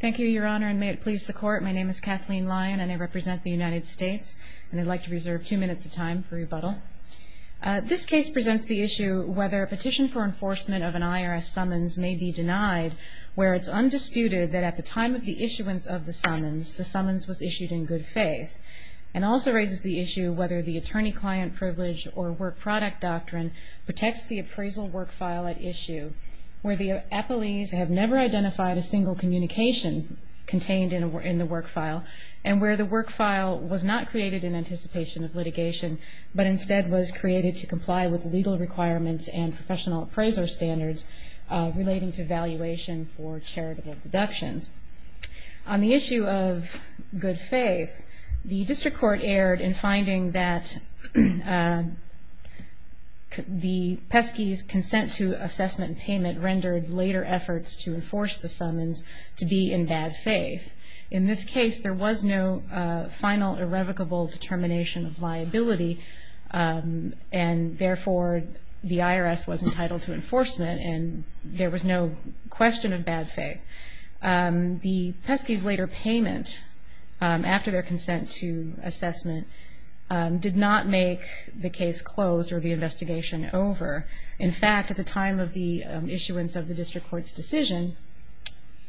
Thank you, Your Honor, and may it please the Court, my name is Kathleen Lyon, and I represent the United States, and I'd like to reserve two minutes of time for rebuttal. This case presents the issue whether a petition for enforcement of an IRS summons may be denied where it's undisputed that at the time of the issuance of the summons, the summons was issued in good faith, and also raises the issue whether the attorney-client privilege or work-product doctrine protects the appraisal work file at issue where the appellees have never identified a single communication contained in the work file, and where the work file was not created in anticipation of litigation, but instead was created to comply with legal requirements and professional appraiser standards relating to valuation for charitable deductions. On the issue of good faith, the District Court erred in finding that the PESCI's consent to assessment and payment rendered later efforts to enforce the summons to be in bad faith. In this case, there was no final irrevocable determination of liability, and therefore the IRS was entitled to enforcement, and there was no question of bad faith. The PESCI's later payment after their consent to assessment did not make the case closed or the investigation over. In fact, at the time of the issuance of the District Court's decision,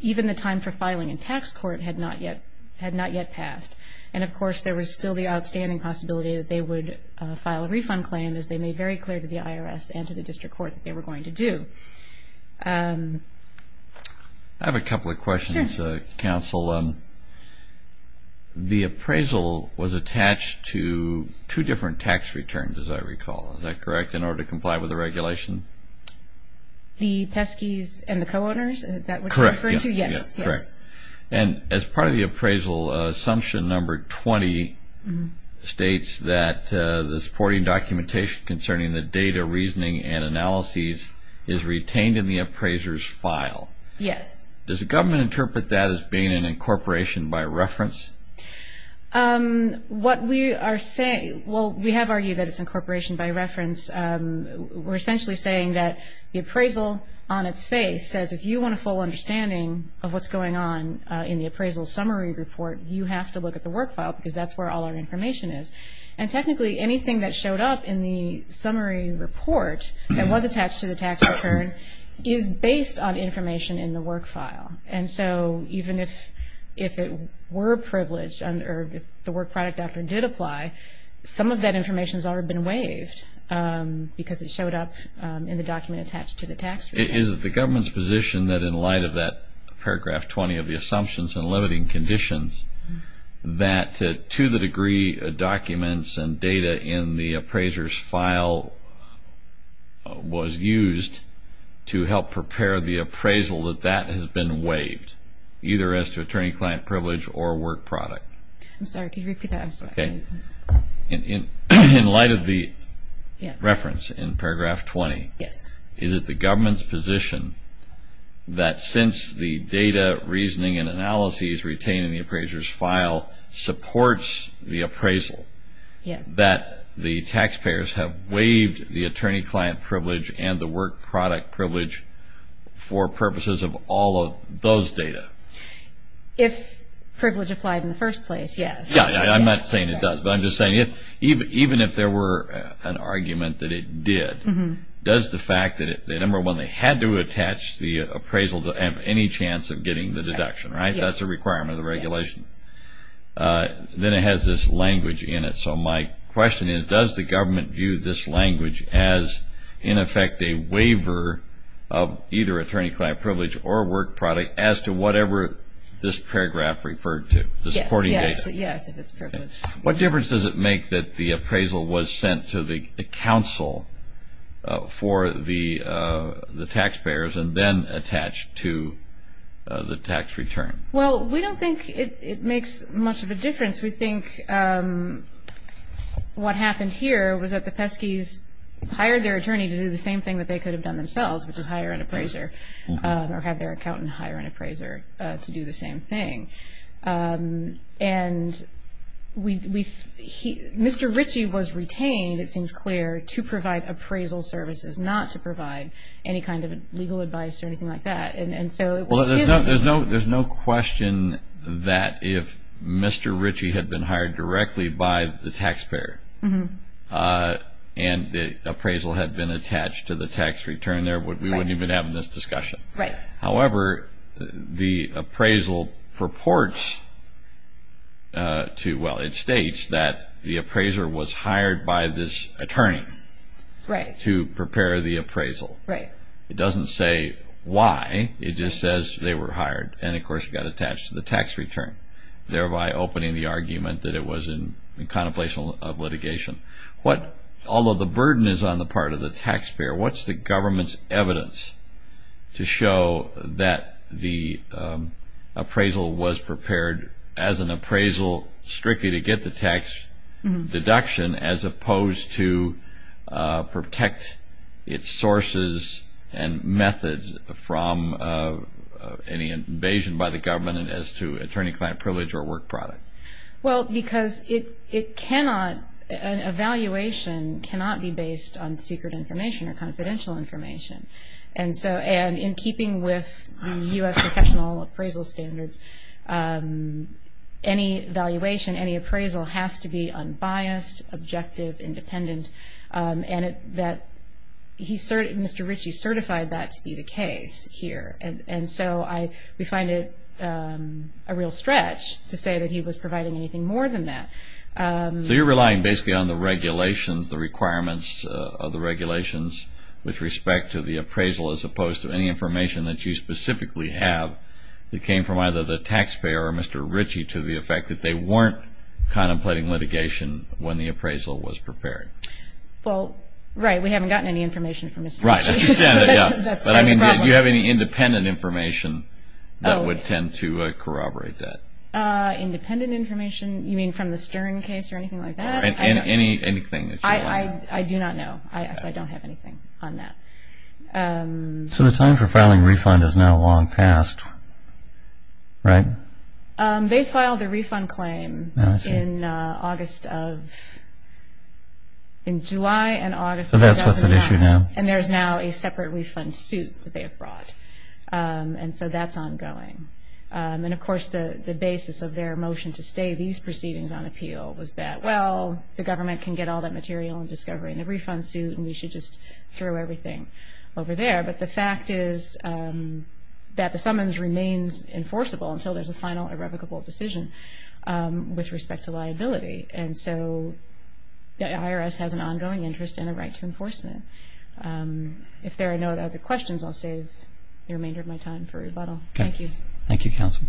even the time for filing in tax court had not yet passed. And of course, there was still the outstanding possibility that they would file a refund claim, as they made very clear to the IRS and to the District Court that they were going to do. I have a couple of questions, Counsel. The appraisal was attached to two different tax returns, as I recall. Is that correct, in order to comply with the regulation? The PESCI's and the co-owners? Is that what you're referring to? Correct. Yes. And as part of the appraisal, Assumption Number 20 states that the supporting documentation concerning the data, reasoning, and analyses is retained in the appraiser's file. Yes. Does the government interpret that as being an incorporation by reference? What we are saying, well, we have argued that it's incorporation by reference. We're essentially saying that the appraisal, on its face, says if you want a full understanding of what's going on in the appraisal summary report, you have to look at the work file because that's where all our information is. And technically, anything that showed up in the summary report that was attached to the tax return is based on information in the work file. And so, even if it were privileged, or if the work product doctrine did apply, some of that information has already been waived because it showed up in the document attached to the tax return. Is it the government's position that in light of that paragraph 20 of the assumptions and limiting conditions, that to the degree documents and data in the appraiser's file was used to help prepare the appraisal, that that has been waived, either as to attorney-client privilege or work product? I'm sorry, could you repeat that? Okay. In light of the reference in paragraph 20, is it the government's position that since the data, reasoning, and analyses retained in the appraiser's file supports the appraisal, that the taxpayers have waived the attorney-client privilege and the work product privilege for purposes of all of those data? If privilege applied in the first place, yes. Yeah, I'm not saying it does, but I'm just saying even if there were an argument that it did, does the fact that number one, they had to attach the appraisal to have any chance of getting the deduction, right? That's a requirement of the regulation. Then it has this language in it. So my question is, does the government view this language as in effect a waiver of either attorney-client privilege or work product as to whatever this paragraph referred to, the supporting data? Yes, yes, yes, if it's privilege. What difference does it make that the appraisal was sent to the counsel for the taxpayers and then attached to the tax return? Well, we don't think it makes much of a difference. We think what happened here was that the Pesky's hired their attorney to do the same thing that they could have done themselves, which is hire an appraiser, or have their accountant hire an appraiser to do the same thing. And Mr. Ritchie was retained, it seems clear, to provide appraisal services, not to provide any kind of legal advice or anything like that. Well, there's no question that if Mr. Ritchie had been hired directly by the taxpayer and the appraisal had been attached to the tax return, we wouldn't even have this discussion. However, the appraisal purports to, well, it states that the appraiser was hired by this attorney to prepare the appraisal. It doesn't say why, it just says they were hired and, of course, got attached to the tax return, thereby opening the argument that it was in contemplation of litigation. Although the burden is on the part of the taxpayer, what's the government's evidence to show that the appraisal was prepared as an appraisal strictly to get the tax deduction as opposed to protect its sources and methods from any invasion by the government as to attorney-client privilege or work product? Well, because it cannot, an evaluation cannot be based on secret information or confidential information. And so, and in keeping with U.S. professional appraisal standards, any evaluation, any appraisal has to be unbiased, objective, independent, and that he, Mr. Ritchie certified that to be the case here. And so, I, we find it a real stretch to say that he was providing anything more than that. So you're relying basically on the regulations, the requirements of the regulations with respect to the appraisal as opposed to any information that you specifically have that came from either the taxpayer or Mr. Ritchie to the effect that they weren't contemplating litigation when the appraisal was prepared? Well, right, we haven't gotten any information from Mr. Ritchie. Right, I understand that, yeah. That's the problem. But I mean, do you have any independent information that would tend to corroborate that? Independent information? You mean from the Stern case or anything like that? And any, anything that you want. I do not know. So I don't have anything on that. So the time for filing refund is now long past, right? They filed the refund claim in August of, in July and August of 2019. So that's what's at issue now? And there's now a separate refund suit that they have brought. And so that's ongoing. And of course, the basis of their motion to stay these proceedings on appeal was that, well, the government can get all that material and discovery in the refund suit and we should just throw everything over there. But the fact is that the summons remains enforceable until there's a final irrevocable decision with respect to liability. And so the IRS has an ongoing interest and a right to enforcement. If there are no other questions, I'll save the remainder of my time for rebuttal. Thank you. Thank you, counsel.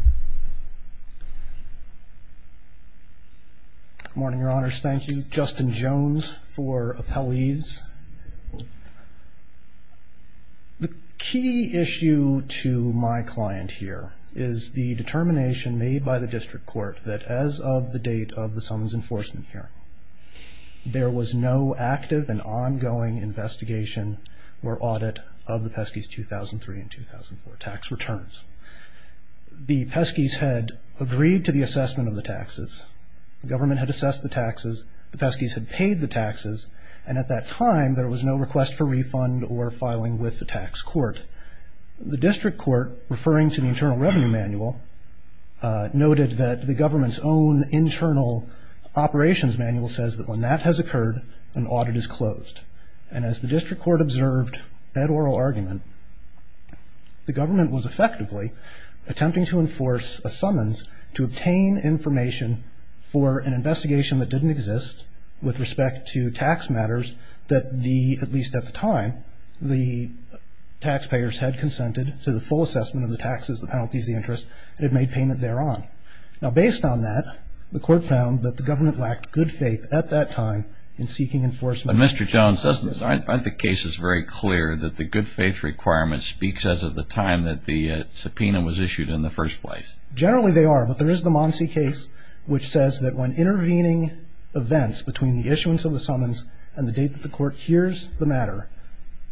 Good morning, Your Honors. Thank you. Justin Jones for appellees. The key issue to my client here is the determination made by the district court that as of the date of the summons enforcement hearing, there was no active and ongoing investigation or audit of the Pesky's 2003 and 2004 tax returns. The Pesky's had agreed to the assessment of the taxes. The government had assessed the taxes. The Pesky's had paid the taxes. And at that time, there was no request for refund or filing with the tax court. The district court, referring to the Internal Revenue Manual, noted that the government's own internal operations manual says that when that has occurred, an audit is closed. And as the district court observed that oral argument, the government was effectively attempting to enforce a summons to obtain information for an investigation that didn't exist with respect to tax matters that the, at least at the time, the taxpayers had consented to the full assessment of the taxes, the penalties, the interest, and had made payment thereon. Now, based on that, the court found that the government lacked good faith at that time in seeking enforcement. But Mr. Jones, aren't the cases very clear that the good faith requirement speaks as of the time that the subpoena was issued in the first place? Generally, they are. But there is the Monsey case which says that when intervening events between the issuance of the summons and the date that the court hears the matter,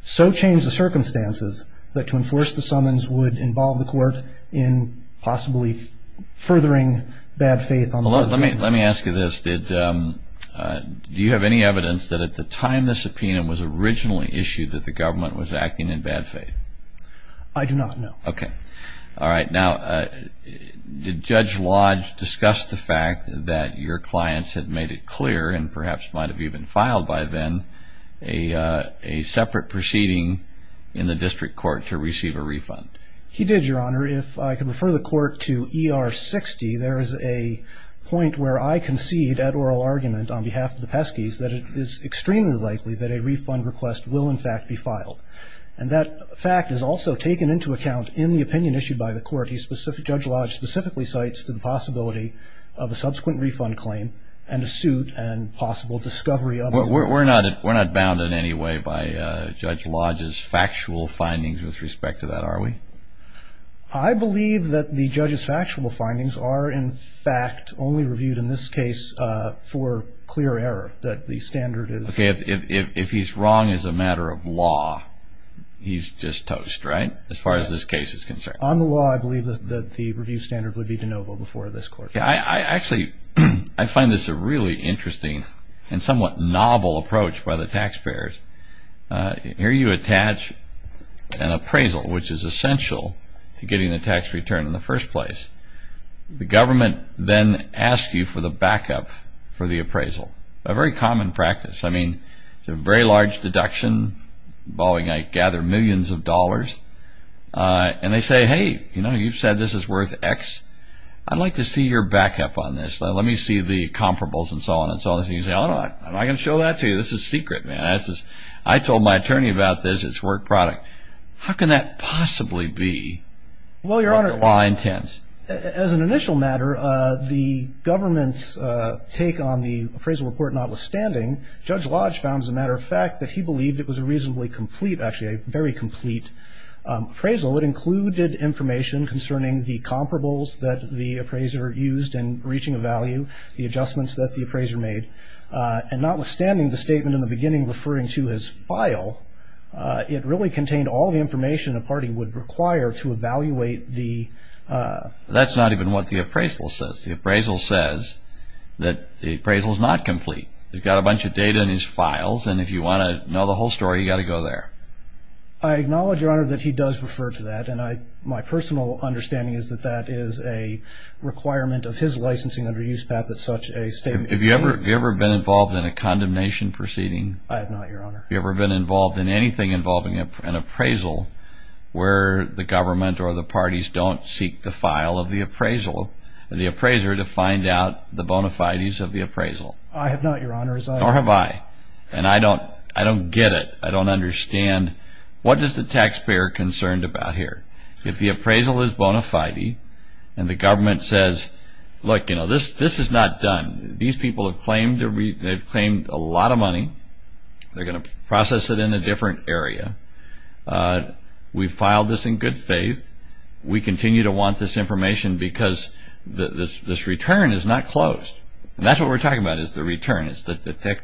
so change the circumstances that to enforce the summons would involve the court in possibly furthering bad faith. Let me ask you this. Do you have any evidence that at the time the subpoena was originally issued that the government was acting in bad faith? I do not, no. Okay. All right. Now, did Judge Lodge discuss the fact that your clients had made it clear and perhaps might have even filed by then a separate proceeding in the district court to receive a refund? He did, Your Honor. If I could refer the court to ER 60, there is a point where I concede at oral argument on behalf of the Pesky's that it is extremely likely that a refund request will, in fact, be filed. And that fact is also taken into account in the opinion issued by the court. Judge Lodge specifically cites the possibility of a subsequent refund claim and a suit and possible discovery of it. We're not bound in any way by Judge Lodge's factual findings with respect to that, are we? I believe that the judge's factual findings are, in fact, only reviewed in this case for clear error, that the standard is- Okay. If he's wrong as a matter of law, he's just toast, right, as far as this case is concerned? On the law, I believe that the review standard would be de novo before this court. Actually, I find this a really interesting and somewhat novel approach by the taxpayers. Here you attach an appraisal, which is essential to getting a tax return in the first place. The government then asks you for the backup for the appraisal, a very common practice. I mean, it's a very large deduction involving, I gather, millions of dollars. And they say, hey, you know, you've said this is worth X. I'd like to see your backup on this. Let me see the comparables and so on and so on. And you say, oh, no, I'm not going to show that to you. This is secret, man. I told my attorney about this. It's work product. How can that possibly be? Well, Your Honor, as an initial matter, the government's take on the appraisal report notwithstanding, Judge Lodge found, as a matter of fact, that he believed it was a reasonably complete, actually a very complete appraisal. So it included information concerning the comparables that the appraiser used in reaching a value, the adjustments that the appraiser made. And notwithstanding the statement in the beginning referring to his file, it really contained all the information a party would require to evaluate the ---- That's not even what the appraisal says. The appraisal says that the appraisal is not complete. They've got a bunch of data in his files. And if you want to know the whole story, you've got to go there. I acknowledge, Your Honor, that he does refer to that. And my personal understanding is that that is a requirement of his licensing under use, Pat, that such a statement be made. Have you ever been involved in a condemnation proceeding? I have not, Your Honor. Have you ever been involved in anything involving an appraisal where the government or the parties don't seek the file of the appraiser to find out the bona fides of the appraisal? I have not, Your Honor. Nor have I. And I don't get it. I don't understand what is the taxpayer concerned about here. If the appraisal is bona fide and the government says, look, you know, this is not done. These people have claimed a lot of money. They're going to process it in a different area. We filed this in good faith. We continue to want this information because this return is not closed. And that's what we're talking about is the return. It's the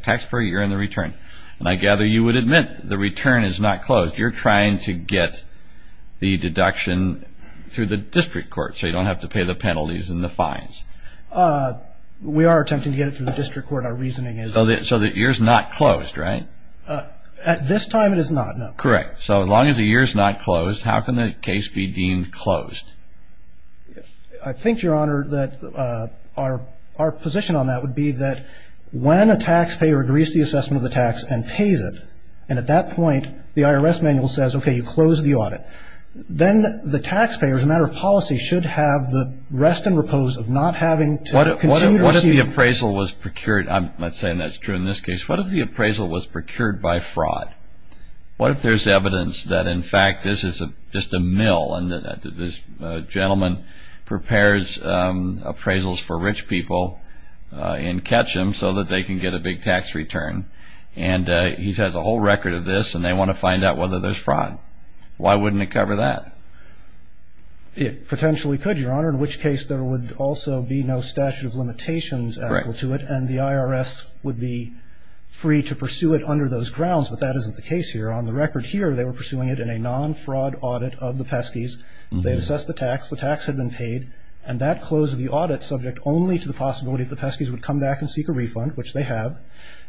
taxpayer, you're in the return. And I gather you would admit the return is not closed. You're trying to get the deduction through the district court so you don't have to pay the penalties and the fines. We are attempting to get it through the district court. Our reasoning is. So the year's not closed, right? At this time, it is not, no. Correct. So as long as the year's not closed, how can the case be deemed closed? I think, Your Honor, that our position on that would be that when a taxpayer agrees to the assessment of the tax and pays it, and at that point the IRS manual says, okay, you close the audit, then the taxpayer, as a matter of policy, should have the rest and repose of not having to continue to receive. What if the appraisal was procured? I'm not saying that's true in this case. What if the appraisal was procured by fraud? What if there's evidence that, in fact, this is just a mill and this gentleman prepares appraisals for rich people in Ketchum so that they can get a big tax return, and he has a whole record of this and they want to find out whether there's fraud? Why wouldn't it cover that? It potentially could, Your Honor, in which case there would also be no statute of limitations and the IRS would be free to pursue it under those grounds, but that isn't the case here. On the record here, they were pursuing it in a non-fraud audit of the peskies. They assessed the tax. The tax had been paid, and that closed the audit subject only to the possibility that the peskies would come back and seek a refund, which they have,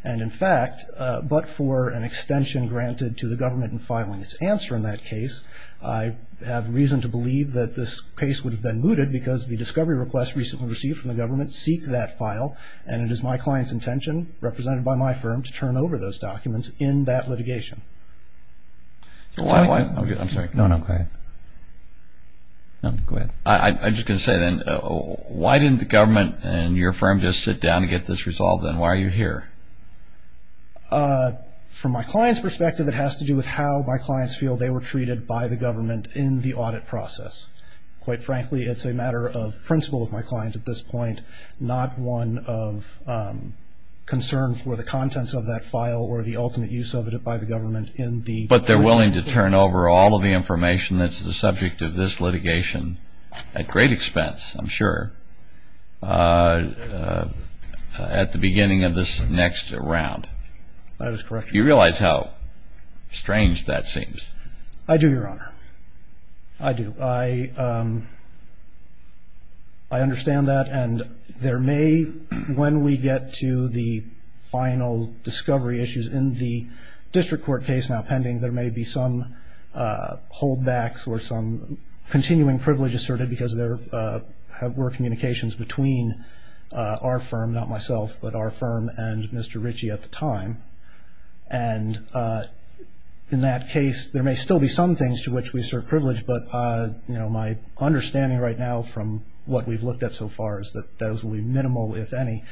and in fact, but for an extension granted to the government in filing its answer in that case. I have reason to believe that this case would have been mooted because the discovery request recently received from the government seek that file, and it is my client's intention, represented by my firm, to turn over those documents in that litigation. I'm sorry. No, no, go ahead. No, go ahead. I'm just going to say then, why didn't the government and your firm just sit down to get this resolved, and why are you here? From my client's perspective, it has to do with how my clients feel they were treated by the government in the audit process. Quite frankly, it's a matter of principle of my client at this point, not one of concern for the contents of that file or the ultimate use of it by the government in the... But they're willing to turn over all of the information that's the subject of this litigation, at great expense, I'm sure, at the beginning of this next round. That is correct. Do you realize how strange that seems? I do, Your Honor. I do. I understand that, and there may, when we get to the final discovery issues, in the district court case now pending, there may be some holdbacks or some continuing privilege asserted because there were communications between our firm, not myself, but our firm and Mr. Ritchie at the time. And in that case, there may still be some things to which we assert privilege, but my understanding right now from what we've looked at so far is that those will be minimal, if any.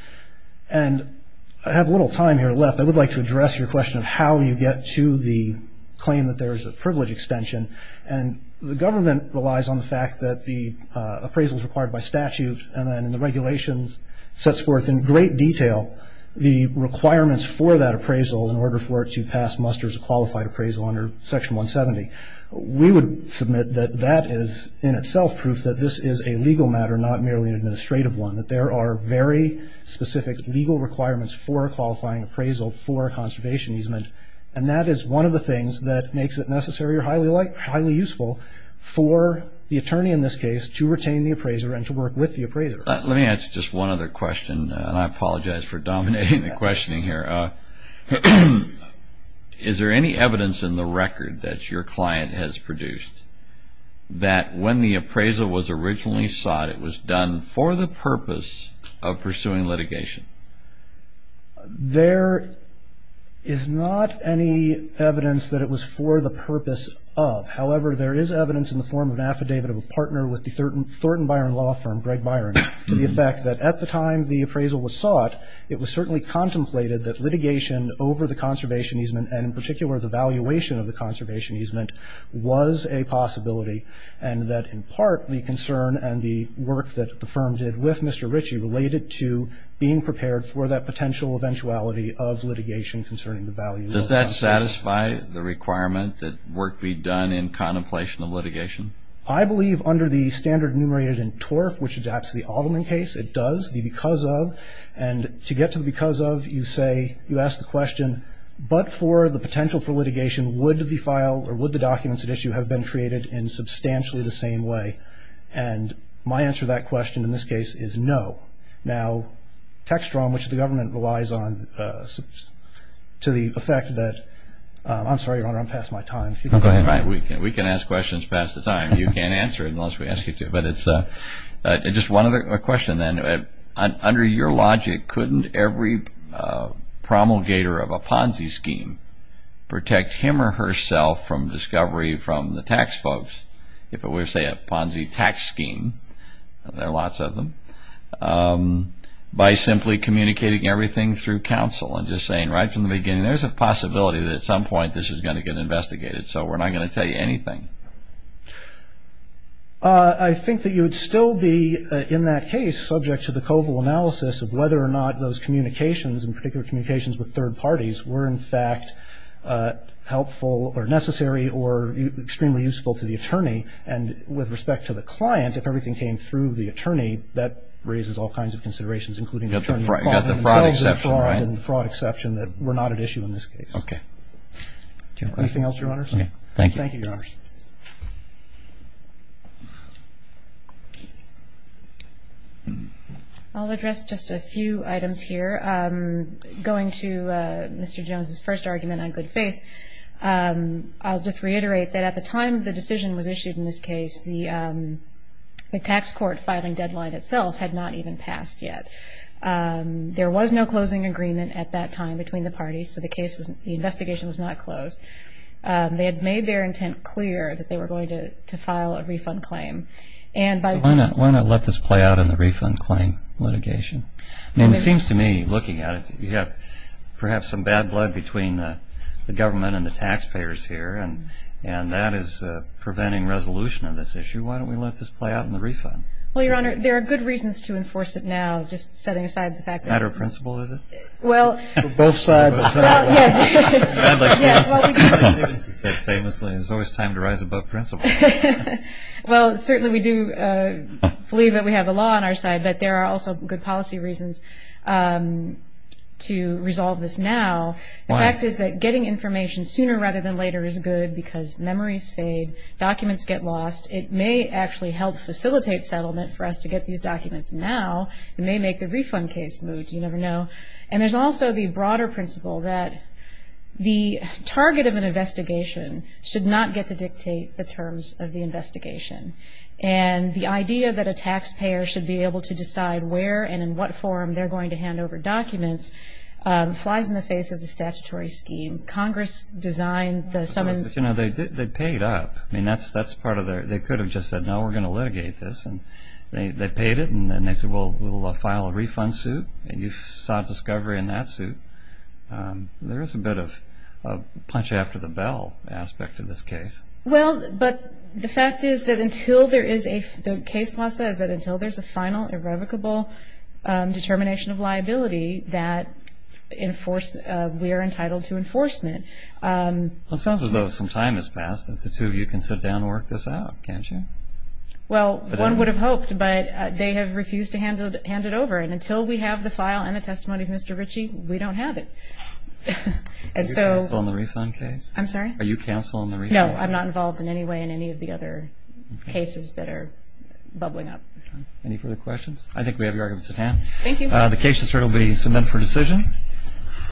And I have a little time here left. I would like to address your question of how you get to the claim that there is a privilege extension. And the government relies on the fact that the appraisal is required by statute, and then the regulations sets forth in great detail the requirements for that appraisal, in order for it to pass muster as a qualified appraisal under Section 170. We would submit that that is in itself proof that this is a legal matter, not merely an administrative one, that there are very specific legal requirements for a qualifying appraisal for a conservation easement, and that is one of the things that makes it necessary or highly useful for the attorney in this case to retain the appraiser and to work with the appraiser. Let me ask just one other question, and I apologize for dominating the questioning here. Is there any evidence in the record that your client has produced that when the appraisal was originally sought, it was done for the purpose of pursuing litigation? There is not any evidence that it was for the purpose of. However, there is evidence in the form of an affidavit of a partner with the Thornton Byron Law Firm, Greg Byron, to the effect that at the time the appraisal was sought, it was certainly contemplated that litigation over the conservation easement, and in particular the valuation of the conservation easement, was a possibility, and that in part the concern and the work that the firm did with Mr. Ritchie related to being prepared for that potential eventuality of litigation concerning the value of the appraisal. Does that satisfy the requirement that work be done in contemplation of litigation? I believe under the standard enumerated in TORF, which adapts to the Altman case, it does, the because of. And to get to the because of, you say, you ask the question, but for the potential for litigation, would the file or would the documents at issue have been created in substantially the same way? And my answer to that question in this case is no. Now, tax reform, which the government relies on, to the effect that, I'm sorry, Your Honor, I'm past my time. Go ahead. We can ask questions past the time. You can't answer unless we ask you to. But it's just one other question then. Under your logic, couldn't every promulgator of a Ponzi scheme protect him or herself from discovery from the tax folks, if it were, say, a Ponzi tax scheme? There are lots of them. By simply communicating everything through counsel and just saying right from the beginning, there's a possibility that at some point this is going to get investigated. So we're not going to tell you anything. I think that you would still be, in that case, subject to the COVIL analysis of whether or not those communications, in particular communications with third parties, were in fact helpful or necessary or extremely useful to the attorney. And with respect to the client, if everything came through the attorney, that raises all kinds of considerations, including the attorney calling themselves a fraud and the fraud exception that were not at issue in this case. Okay. Anything else, Your Honors? Okay. Thank you. Thank you, Your Honors. I'll address just a few items here. Going to Mr. Jones's first argument on good faith, I'll just reiterate that at the time the decision was issued in this case, the tax court filing deadline itself had not even passed yet. There was no closing agreement at that time between the parties, so the investigation was not closed. They had made their intent clear that they were going to file a refund claim. Why not let this play out in the refund claim litigation? It seems to me, looking at it, you have perhaps some bad blood between the government and the taxpayers here, and that is preventing resolution of this issue. Why don't we let this play out in the refund? Well, Your Honor, there are good reasons to enforce it now, just setting aside the fact that the Matter of principle, is it? Well. Both sides. Well, yes. Famously, there's always time to rise above principle. Well, certainly we do believe that we have the law on our side, but there are also good policy reasons to resolve this now. Why? The fact is that getting information sooner rather than later is good because memories fade, documents get lost. It may actually help facilitate settlement for us to get these documents now. It may make the refund case move. You never know. And there's also the broader principle that the target of an investigation should not get to dictate the terms of the investigation. And the idea that a taxpayer should be able to decide where and in what form they're going to hand over documents flies in the face of the statutory scheme. Congress designed the summons. But, you know, they paid up. I mean, that's part of their. They could have just said, no, we're going to litigate this. And they paid it, and then they said, well, we'll file a refund suit, and you sought discovery in that suit. There is a bit of a punch after the bell aspect to this case. Well, but the fact is that until there is a case law says that until there's a final irrevocable determination of liability that we are entitled to enforcement. It sounds as though some time has passed that the two of you can sit down and work this out, can't you? Well, one would have hoped, but they have refused to hand it over. And until we have the file and the testimony of Mr. Ritchie, we don't have it. Are you canceling the refund case? I'm sorry? Are you canceling the refund case? No, I'm not involved in any way in any of the other cases that are bubbling up. Okay. Any further questions? I think we have your arguments at hand. Thank you. The case will be submitted for decision.